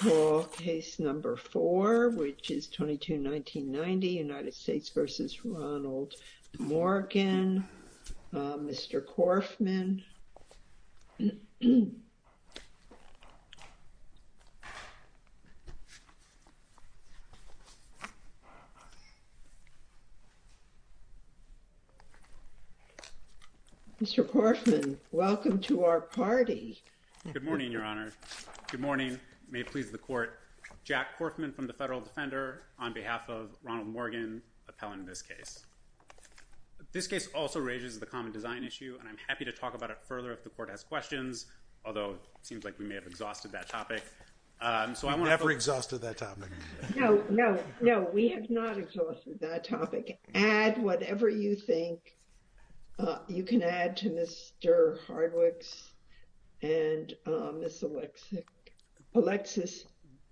Mr. Korfman, welcome to our party. Good morning, Your Honor. Good morning. May it please the court, Jack Korfman from the Federal Defender on behalf of Ronald Morgan, appellant in this case. This case also raises the common design issue. And I'm happy to talk about it further if the court has questions, although it seems like we may have exhausted that topic. So I want to put. We never exhausted that topic. No, no, no, we have not exhausted that topic. Add whatever you think you can add to Mr. Hardwick's and Ms. Alexis.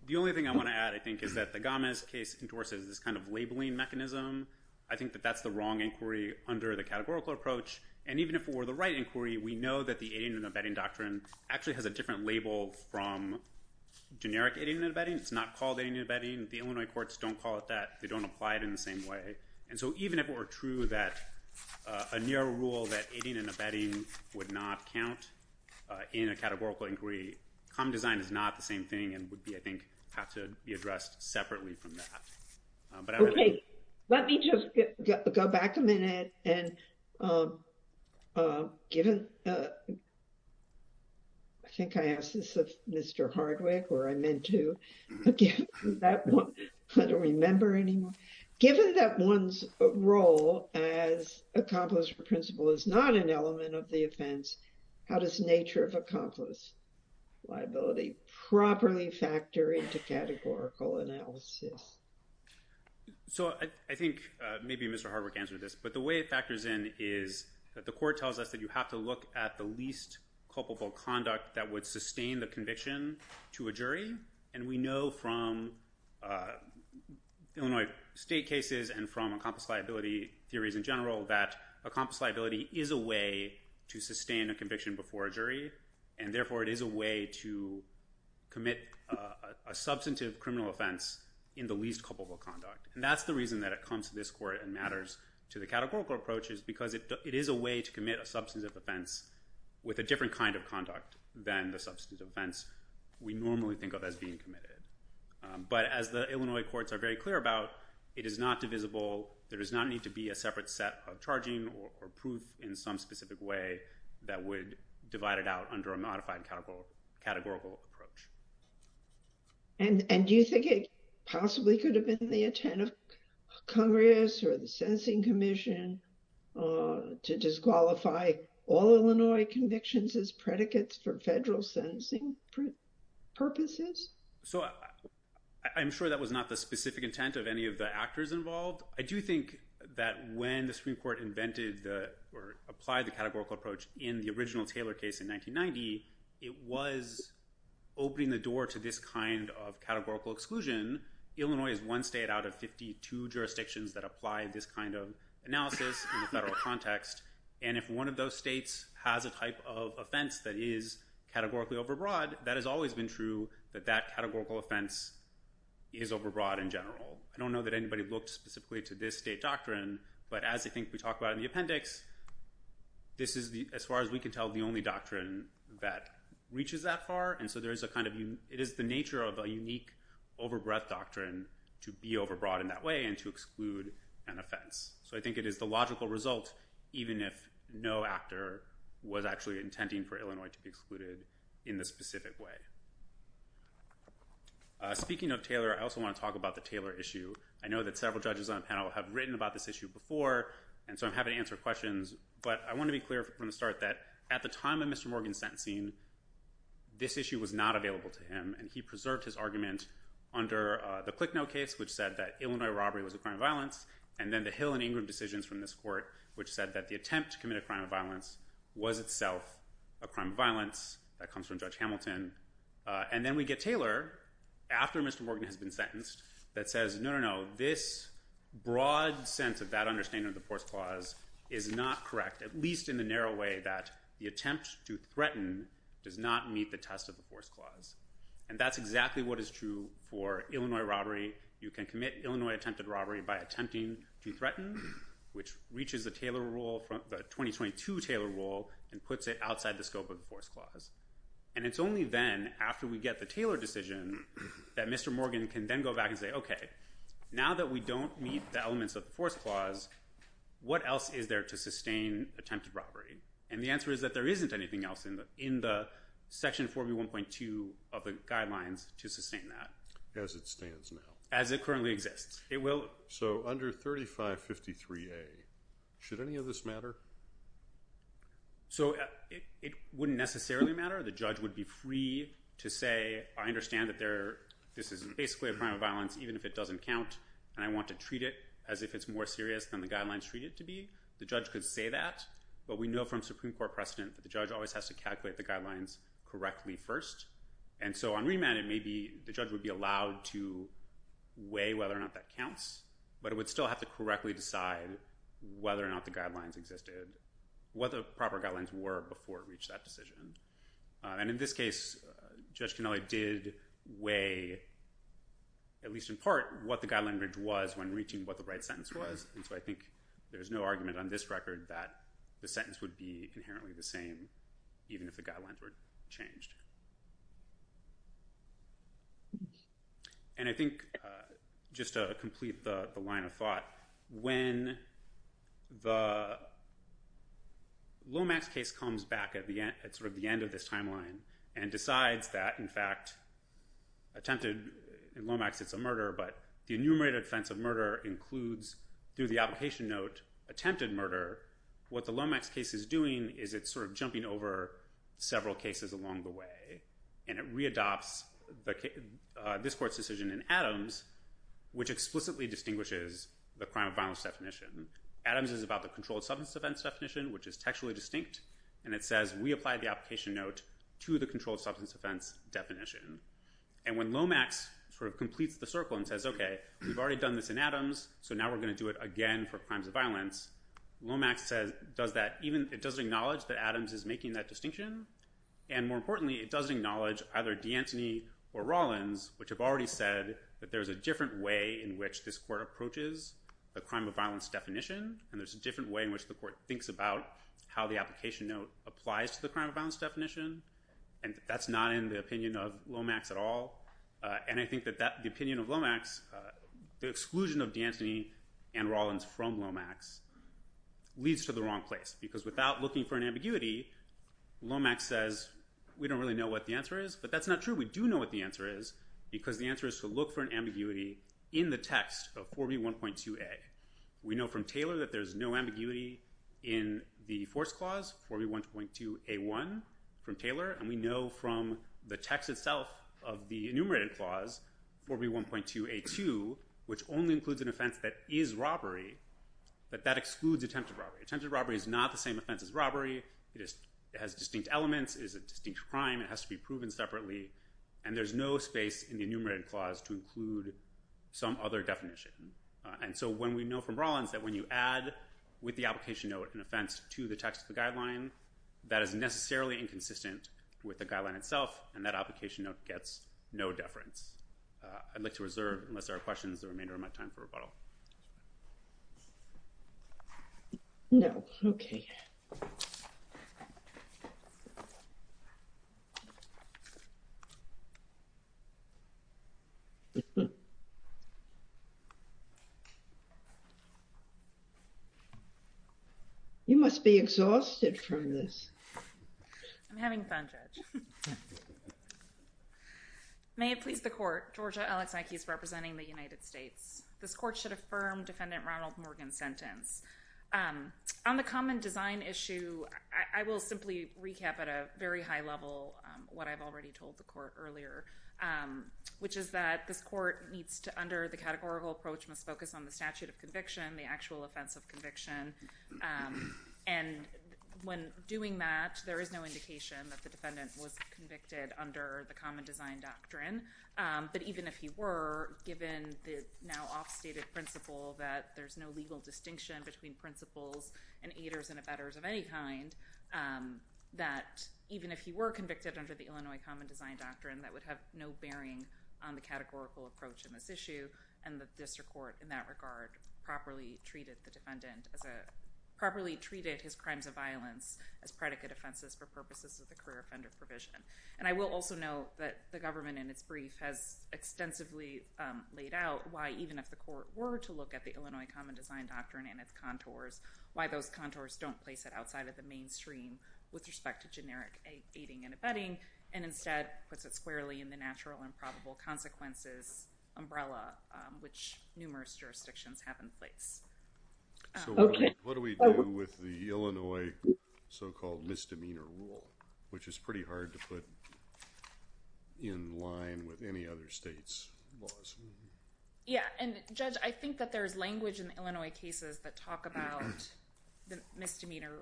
The only thing I want to add, I think, is that the Gomez case endorses this kind of labeling mechanism. I think that that's the wrong inquiry under the categorical approach. And even if it were the right inquiry, we know that the aiding and abetting doctrine actually has a different label from generic aiding and abetting. It's not called aiding and abetting. The Illinois courts don't call it that. They don't apply it in the same way. And so even if it were true that a narrow rule that aiding and abetting would not count in a categorical inquiry, common design is not the same thing and would be, I think, have to be addressed separately from that. But I'm happy to. Let me just go back a minute. And given, I think I asked this of Mr. Hardwick, or I meant to, given that one, I don't remember anymore. Given that one's role as accomplice or principal is not an element of the offense, how does nature of accomplice liability properly factor into categorical analysis? So I think maybe Mr. Hardwick answered this. But the way it factors in is that the court tells us that you have to look at the least culpable conduct that would sustain the conviction to a jury. And we know from Illinois state cases and from accomplice liability theories in general that accomplice liability is a way to sustain a conviction before a jury. And therefore, it is a way to commit a substantive criminal offense in the least culpable conduct. And that's the reason that it comes to this court and matters to the categorical approach is because it is a way to commit a substantive offense with a different kind of conduct than the substantive offense we normally think of as being committed. But as the Illinois courts are very clear about, it is not divisible. There does not need to be a separate set of charging or proof in some specific way that would divide it out under a modified categorical approach. And do you think it possibly could have been the intent of Congress or the Sentencing Commission to disqualify all Illinois convictions as predicates for federal sentencing purposes? So I'm sure that was not the specific intent of any of the actors involved. I do think that when the Supreme Court invented or applied the categorical approach in the original Taylor case in 1990, it was opening the door to this kind of categorical exclusion. Illinois is one state out of 52 jurisdictions that apply this kind of analysis in the federal context. And if one of those states has a type of offense that is categorically overbroad, that has always been true that that categorical offense is overbroad in general. I don't know that anybody looked specifically to this state doctrine. But as I think we talked about in the appendix, this is, as far as we can tell, the only doctrine that reaches that far. And so it is the nature of a unique overbreadth doctrine to be overbroad in that way and to exclude an offense. So I think it is the logical result, even if no actor was actually intending for Illinois to be excluded in this specific way. Speaking of Taylor, I also want to talk about the Taylor issue. I know that several judges on the panel have written about this issue before, and so I'm happy to answer questions. But I want to be clear from the start that at the time of Mr. Morgan's sentencing, this issue was not available to him. which said that Illinois robbery was a crime of violence. And then the Hill and Ingram decisions from this court, which said that the attempt to commit a crime of violence was itself a crime of violence. That comes from Judge Hamilton. And then we get Taylor, after Mr. Morgan has been sentenced, that says, no, no, no, this broad sense of that understanding of the force clause is not correct, at least in the narrow way that the attempt to threaten does not meet the test of the force clause. And that's exactly what is true for Illinois robbery. You can commit Illinois attempted robbery by attempting to threaten, which reaches the 2022 Taylor rule and puts it outside the scope of the force clause. And it's only then, after we get the Taylor decision, that Mr. Morgan can then go back and say, OK, now that we don't meet the elements of the force clause, what else is there to sustain attempted robbery? And the answer is that there isn't anything else in the section 4B1.2 of the guidelines to sustain that. As it stands now. As it currently exists. So under 3553A, should any of this matter? So it wouldn't necessarily matter. The judge would be free to say, I understand that this is basically a crime of violence, even if it doesn't count. And I want to treat it as if it's more serious than the guidelines treat it to be. The judge could say that. But we know from Supreme Court precedent that the judge always has to calculate the guidelines correctly first. And so on remand, maybe the judge would be allowed to weigh whether or not that counts. But it would still have to correctly decide whether or not the guidelines existed, what the proper guidelines were before it reached that decision. And in this case, Judge Canelli did weigh, at least in part, what the guideline bridge was when reaching what the right sentence was. And so I think there is no argument on this record that the sentence would be inherently the same, even if the guidelines were changed. And I think, just to complete the line of thought, when the Lomax case comes back at sort of the end of this timeline and decides that, in fact, attempted in Lomax, it's a murder, but the enumerated offense of murder includes, through the application note, attempted murder, what the Lomax case is doing is it's sort of jumping over several cases along the way. And it re-adopts this court's decision in Adams, which explicitly distinguishes the crime of violence definition. Adams is about the controlled substance offense definition, which is textually distinct. And it says, we apply the application note to the controlled substance offense definition. And when Lomax sort of completes the circle and says, OK, we've already done this in Adams, so now we're going to do it again for crimes of violence, Lomax does that. It doesn't acknowledge that Adams is making that distinction. And more importantly, it doesn't acknowledge either D'Antoni or Rollins, which have already said that there is a different way in which this court approaches the crime of violence definition. And there's a different way in which the court thinks about how the application note applies to the crime of violence definition. And that's not in the opinion of Lomax at all. And I think that the opinion of Lomax, the exclusion of D'Antoni and Rollins from Lomax leads to the wrong place. Because without looking for an ambiguity, Lomax says, we don't really know what the answer is. But that's not true. We do know what the answer is, because the answer is to look for an ambiguity in the text of 4B1.2a. We know from Taylor that there's no ambiguity in the force clause, 4B1.2a1 from Taylor. And we know from the text itself of the enumerated clause, 4B1.2a2, which only includes an offense that is robbery, that that excludes attempted robbery. Attempted robbery is not the same offense as robbery. It has distinct elements. It is a distinct crime. It has to be proven separately. And there's no space in the enumerated clause to include some other definition. And so when we know from Rollins that when you add with the application note an offense to the text of the guideline, that is necessarily inconsistent with the guideline itself. And that application note gets no deference. I'd like to reserve, unless there are questions, the remainder of my time for rebuttal. No. OK. You must be exhausted from this. I'm having fun, Judge. May it please the court, Georgia Alexnicki is representing This court should have a hearing on this case to affirm Defendant Ronald Morgan's sentence. On the common design issue, I will simply recap at a very high level what I've already told the court earlier, which is that this court needs to, under the categorical approach, must focus on the statute of conviction, the actual offense of conviction. And when doing that, there is no indication that the defendant was convicted under the common design doctrine. But even if he were, given the now off-stated principle that there's no legal distinction between principles and aiders and abettors of any kind, that even if he were convicted under the Illinois common design doctrine, that would have no bearing on the categorical approach in this issue. And the district court, in that regard, properly treated his crimes of violence as predicate offenses for purposes of the career offender provision. And I will also note that the government, in its brief, has extensively laid out why, even if the court were to look at the Illinois common design doctrine and its contours, why those contours don't place it outside of the mainstream with respect to generic aiding and abetting, and instead puts it squarely in the natural and probable consequences umbrella, which numerous jurisdictions have in place. So what do we do with the Illinois so-called misdemeanor rule, which is pretty hard to put in line with any other state's laws? Yeah. And Judge, I think that there is language in the Illinois cases that talk about the misdemeanor.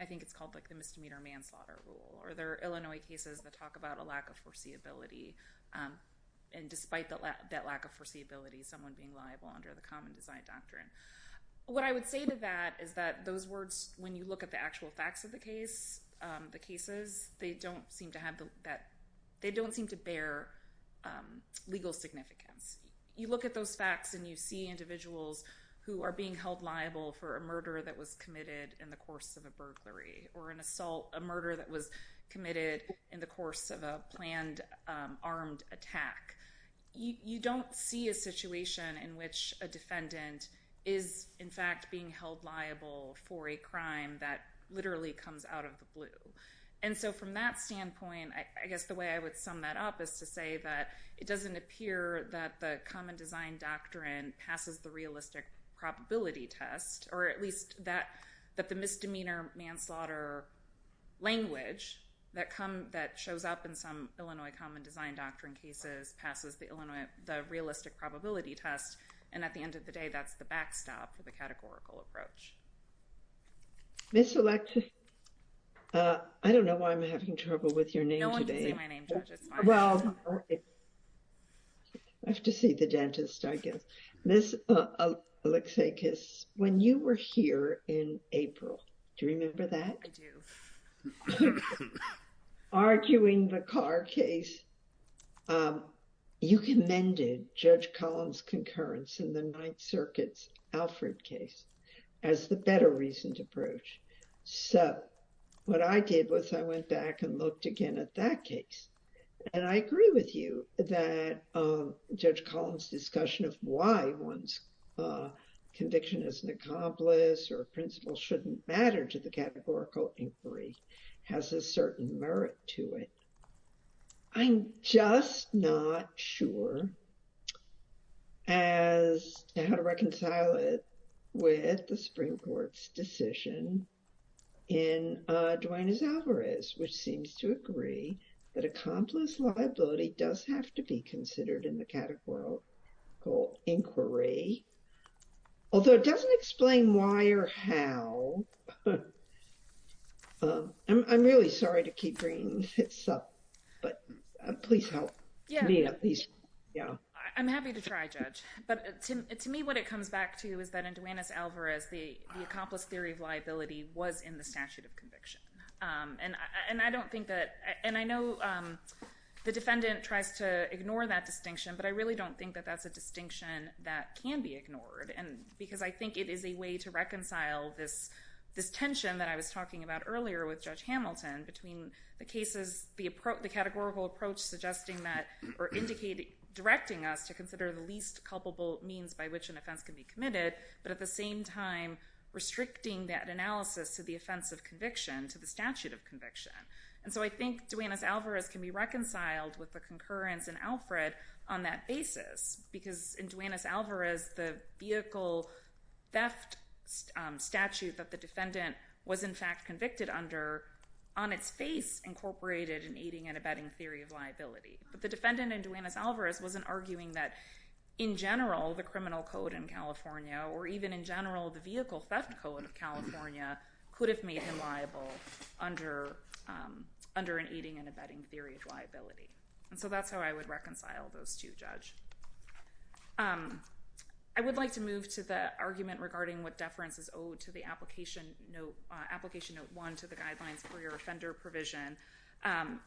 I think it's called the misdemeanor manslaughter rule. Or there are Illinois cases that talk about a lack of foreseeability. And despite that lack of foreseeability, someone being liable under the common design doctrine. What I would say to that is that those words, when you look at the actual facts of the cases, they don't seem to have that. They don't seem to bear legal significance. You look at those facts, and you see individuals who are being held liable for a murder that was committed in the course of a burglary, or an assault, a murder that was committed in the course of a planned armed attack. You don't see a situation in which a defendant is, in fact, being held liable for a crime that literally comes out of the blue. And so from that standpoint, I guess the way I would sum that up is to say that it doesn't appear that the common design doctrine passes the realistic probability test. Or at least that the misdemeanor manslaughter language that shows up in some Illinois common design doctrine cases passes the realistic probability test. And at the end of the day, that's the backstop for the categorical approach. Ms. Alexakis, I don't know why I'm having trouble with your name today. No one can say my name, Judge, it's fine. Well, I have to see the dentist, I guess. Ms. Alexakis, when you were here in April, do you remember that? I do. Arguing the Carr case, you commended Judge Collins' concurrence in the Ninth Circuit's Alfred case as the better reasoned approach. So what I did was I went back and looked again at that case. And I agree with you that Judge Collins' discussion of why one's conviction as an accomplice or a principal shouldn't matter to the categorical inquiry has a certain merit to it. I'm just not sure as to how to reconcile it with the Supreme Court's decision in Duanes-Alvarez, which seems to agree that accomplice liability does have to be considered in the categorical inquiry, although it doesn't explain why or how. I'm really sorry to keep bringing this up, but please help. Yeah. Please, yeah. I'm happy to try, Judge. But to me, what it comes back to is that in Duanes-Alvarez, the accomplice theory of liability was in the statute of conviction. And I don't think that, and I know the defendant tries to ignore that distinction, but I really don't think that that's a distinction that can be ignored, because I think it is a way to reconcile this tension that I was talking about earlier with Judge Hamilton, between the cases, the categorical approach suggesting that, or directing us to consider the least culpable means by which an offense can be committed, but at the same time, restricting that analysis to the offense of conviction, to the statute of conviction. And so I think Duanes-Alvarez can be reconciled with the concurrence in Alfred on that basis, because in Duanes-Alvarez, the vehicle theft statute that the defendant was, in fact, convicted under, on its face, incorporated an aiding and abetting theory of liability. But the defendant in Duanes-Alvarez wasn't arguing that, in general, the criminal code in California, or even in general, the vehicle theft code of California, could have made him liable under an aiding and abetting theory of liability. And so that's how I would reconcile those two, Judge. I would like to move to the argument regarding what deference is owed to the application note one to the guidelines for your offender provision.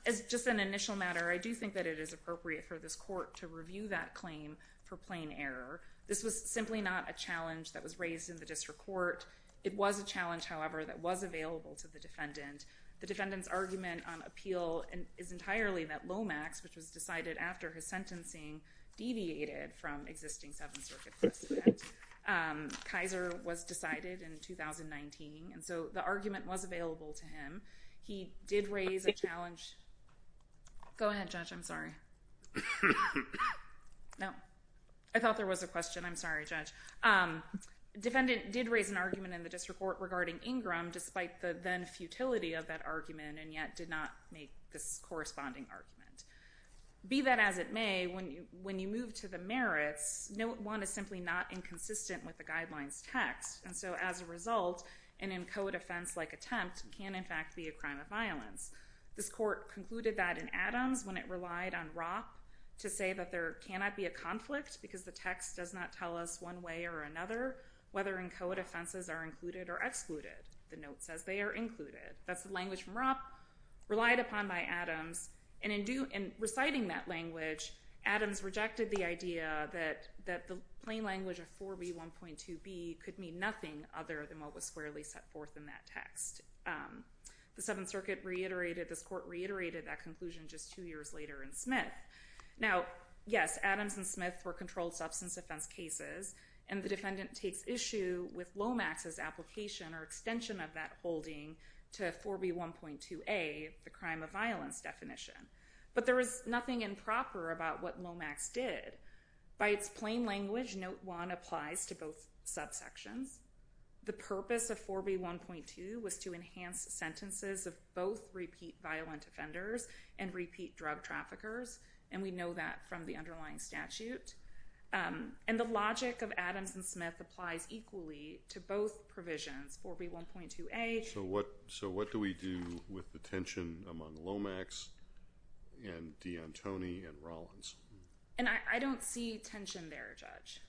As just an initial matter, I do think that it is appropriate for this court to review that claim for plain error. This was simply not a challenge that was raised in the district court. It was a challenge, however, that was available to the defendant. The defendant's argument on appeal is entirely that Lomax, which was decided after his sentencing deviated from existing Seventh Circuit precedent. Kaiser was decided in 2019. And so the argument was available to him. He did raise a challenge. Go ahead, Judge, I'm sorry. No, I thought there was a question. I'm sorry, Judge. Defendant did raise an argument in the district court regarding Ingram, despite the then futility of that argument, and yet did not make this corresponding argument. Be that as it may, when you move to the merits, note one is simply not inconsistent with the guidelines text. And so as a result, an in code offense-like attempt can, in fact, be a crime of violence. This court concluded that in Adams, when it relied on Ropp to say that there cannot be a conflict because the text does not tell us one way or another, whether in code offenses are included or excluded. The note says they are included. That's the language from Ropp relied upon by Adams. And reciting that language, Adams rejected the idea that the plain language of 4B1.2b could mean nothing other than what was squarely set forth in that text. The Seventh Circuit reiterated, this court reiterated that conclusion just two years later in Smith. Now, yes, Adams and Smith were controlled substance offense cases. And the defendant takes issue with Lomax's application or extension of that holding to 4B1.2a, the crime of violence definition. But there is nothing improper about what Lomax did. By its plain language, note one applies to both subsections. The purpose of 4B1.2 was to enhance sentences of both repeat violent offenders and repeat drug traffickers. And we know that from the underlying statute. And the logic of Adams and Smith applies equally to both provisions, 4B1.2a. So what do we do with the tension among Lomax and D'Antoni and Rollins? And I don't see tension there, Judge.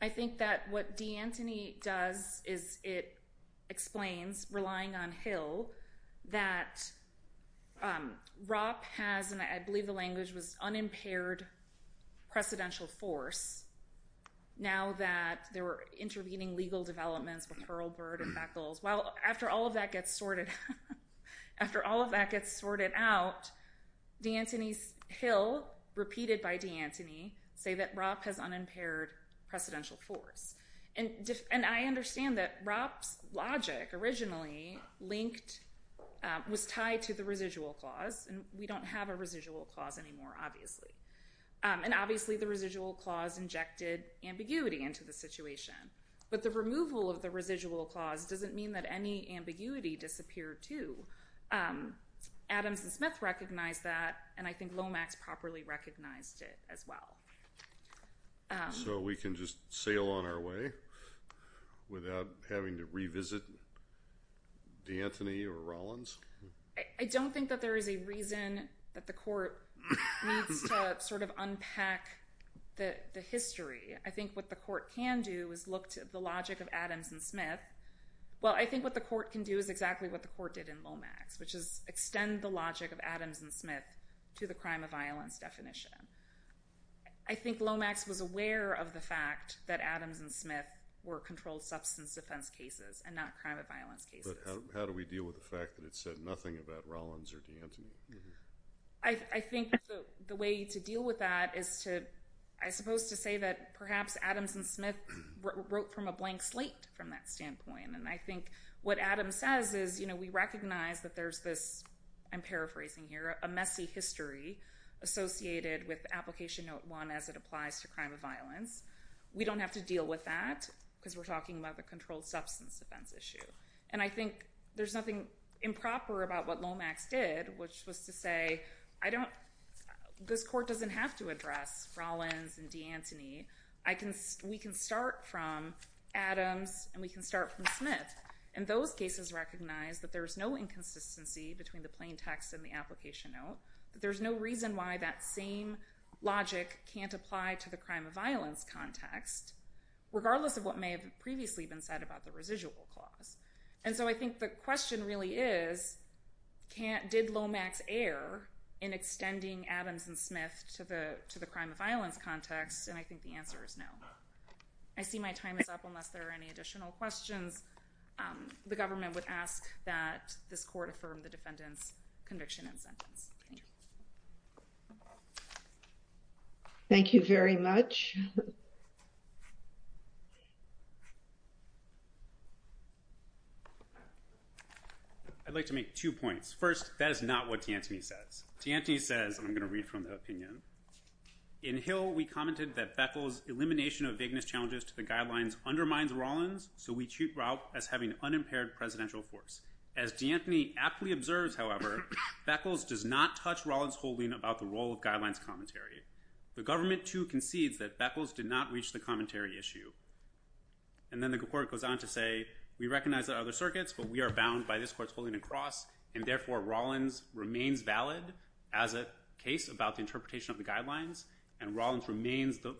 I think that what D'Antoni does is it explains, relying on Hill, that Ropp has, and I believe the language was, unimpaired precedential force now that they were intervening legal developments with Hurlburt and Beckles. Well, after all of that gets sorted out, D'Antoni's Hill, repeated by D'Antoni, say that Ropp has unimpaired precedential force. And I understand that Ropp's logic originally linked, was tied to the residual clause. And we don't have a residual clause anymore, obviously. And obviously, the residual clause injected ambiguity into the situation. But the removal of the residual clause doesn't mean that any ambiguity disappeared, too. Adams and Smith recognized that. And I think Lomax properly recognized it as well. So we can just sail on our way without having to revisit D'Antoni or Rollins? I don't think that there is a reason that the court needs to unpack the history. I think what the court can do is look to the logic of Adams and Smith. Well, I think what the court can do is exactly what the court did in Lomax, which is extend the logic of Adams and Smith to the crime of violence definition. I think Lomax was aware of the fact that Adams and Smith were controlled substance defense cases and not crime of violence cases. But how do we deal with the fact that it said nothing about Rollins or D'Antoni? I think the way to deal with that is to, I suppose, to say that perhaps Adams and Smith wrote from a blank slate from that standpoint. And I think what Adams says is we recognize that there's this, I'm paraphrasing here, a messy history associated with application note one as it applies to crime of violence. We don't have to deal with that because we're talking about the controlled substance offense issue. And I think there's nothing improper about what Lomax did, which was to say, this court doesn't have to address Rollins and D'Antoni. We can start from Adams and we can start from Smith. And those cases recognize that there is no inconsistency between the plain text and the application note, that there's no reason why that same logic can't apply to the crime of violence context, regardless of what may have previously been said about the residual clause. And so I think the question really is, did Lomax err in extending Adams and Smith to the crime of violence context? And I think the answer is no. I see my time is up unless there are any additional questions. The government would ask that this court affirm the defendant's conviction and sentence. Thank you. Thank you very much. I'd like to make two points. First, that is not what D'Antoni says. D'Antoni says, I'm going to read from the opinion. In Hill, we commented that Beckles' elimination of vagueness challenges to the guidelines undermines Rollins, so we treat Rout as having unimpaired presidential force. As D'Antoni aptly observes, however, Beckles does not touch Rollins' holding about the role of guidelines commentary. The government, too, concedes that Beckles did not reach the commentary issue. And then the court goes on to say, we recognize that other circuits, but we are bound by this court's holding across, and therefore Rollins remains valid as a case about the interpretation of the guidelines, and Rollins remains the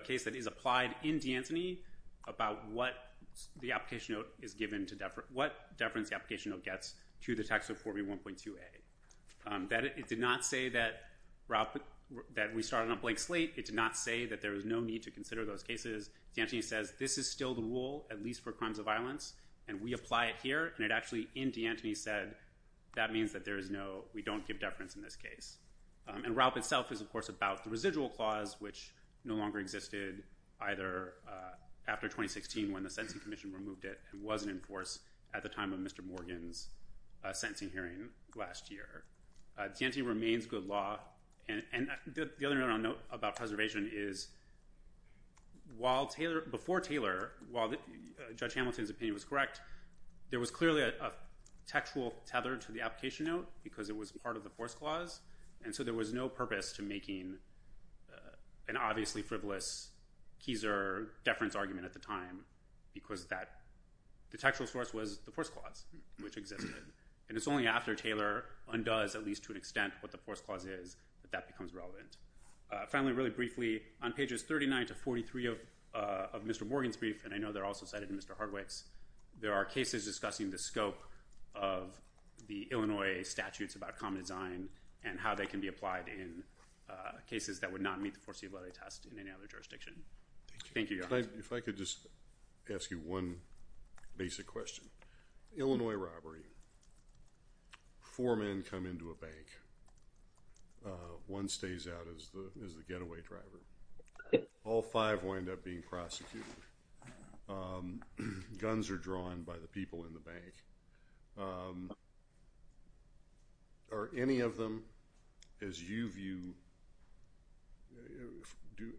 case that is applied in D'Antoni about what deference the application note gets to the text of 4B1.2a. That it did not say that we started on a blank slate. It did not say that there is no need to consider those cases. D'Antoni says, this is still the rule, at least for crimes of violence, and we apply it here. And it actually, in D'Antoni, said that means that we don't give deference in this case. And RAUP itself is, of course, about the residual clause, which no longer existed, either after 2016, when the Sentencing Commission removed it, and wasn't in force at the time of Mr. Morgan's sentencing hearing last year. D'Antoni remains good law. And the other note about preservation is, before Taylor, while Judge Hamilton's opinion was correct, there was clearly a textual tether to the application note, because it was part of the force clause. And so there was no purpose to making an obviously frivolous Keiser deference argument at the time, because the textual source was the force clause, which existed. And it's only after Taylor undoes, at least to an extent, what the force clause is, that that becomes relevant. Finally, really briefly, on pages 39 to 43 of Mr. Morgan's brief, and I know they're also cited in Mr. Hardwick's, there are about common design, and how they can be applied in cases that would not meet the foreseeability test in any other jurisdiction. Thank you. If I could just ask you one basic question. Illinois robbery. Four men come into a bank. One stays out as the getaway driver. All five wind up being prosecuted. Guns are drawn by the people in the bank. Are any of them, as you view,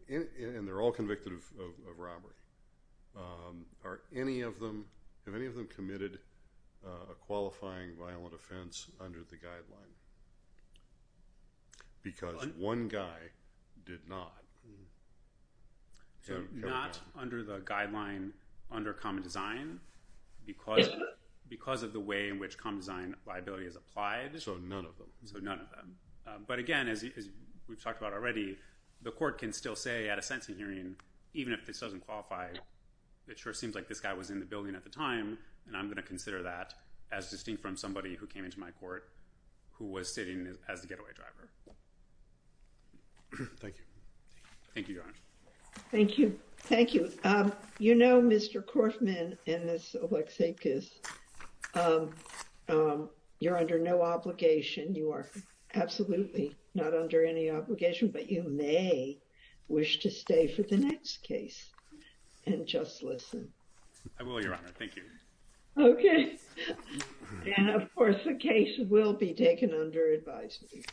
and they're all convicted of robbery, have any of them committed a qualifying violent offense under the guideline? Because one guy did not. So not under the guideline under common design, because of the way in which common design liability is applied. So none of them. But again, as we've talked about already, the court can still say at a sentencing hearing, even if this doesn't qualify, it sure seems like this guy was in the building at the time, and I'm going to consider that as distinct from somebody who came into my court who was sitting as the getaway driver. Thank you. Thank you, Your Honor. Thank you. Thank you. You know, Mr. Corfman and Ms. Oleksiewicz, you're under no obligation. You are absolutely not under any obligation, but you may wish to stay for the next case and just listen. I will, Your Honor. Thank you. OK. And of course, the case will be taken under advisory.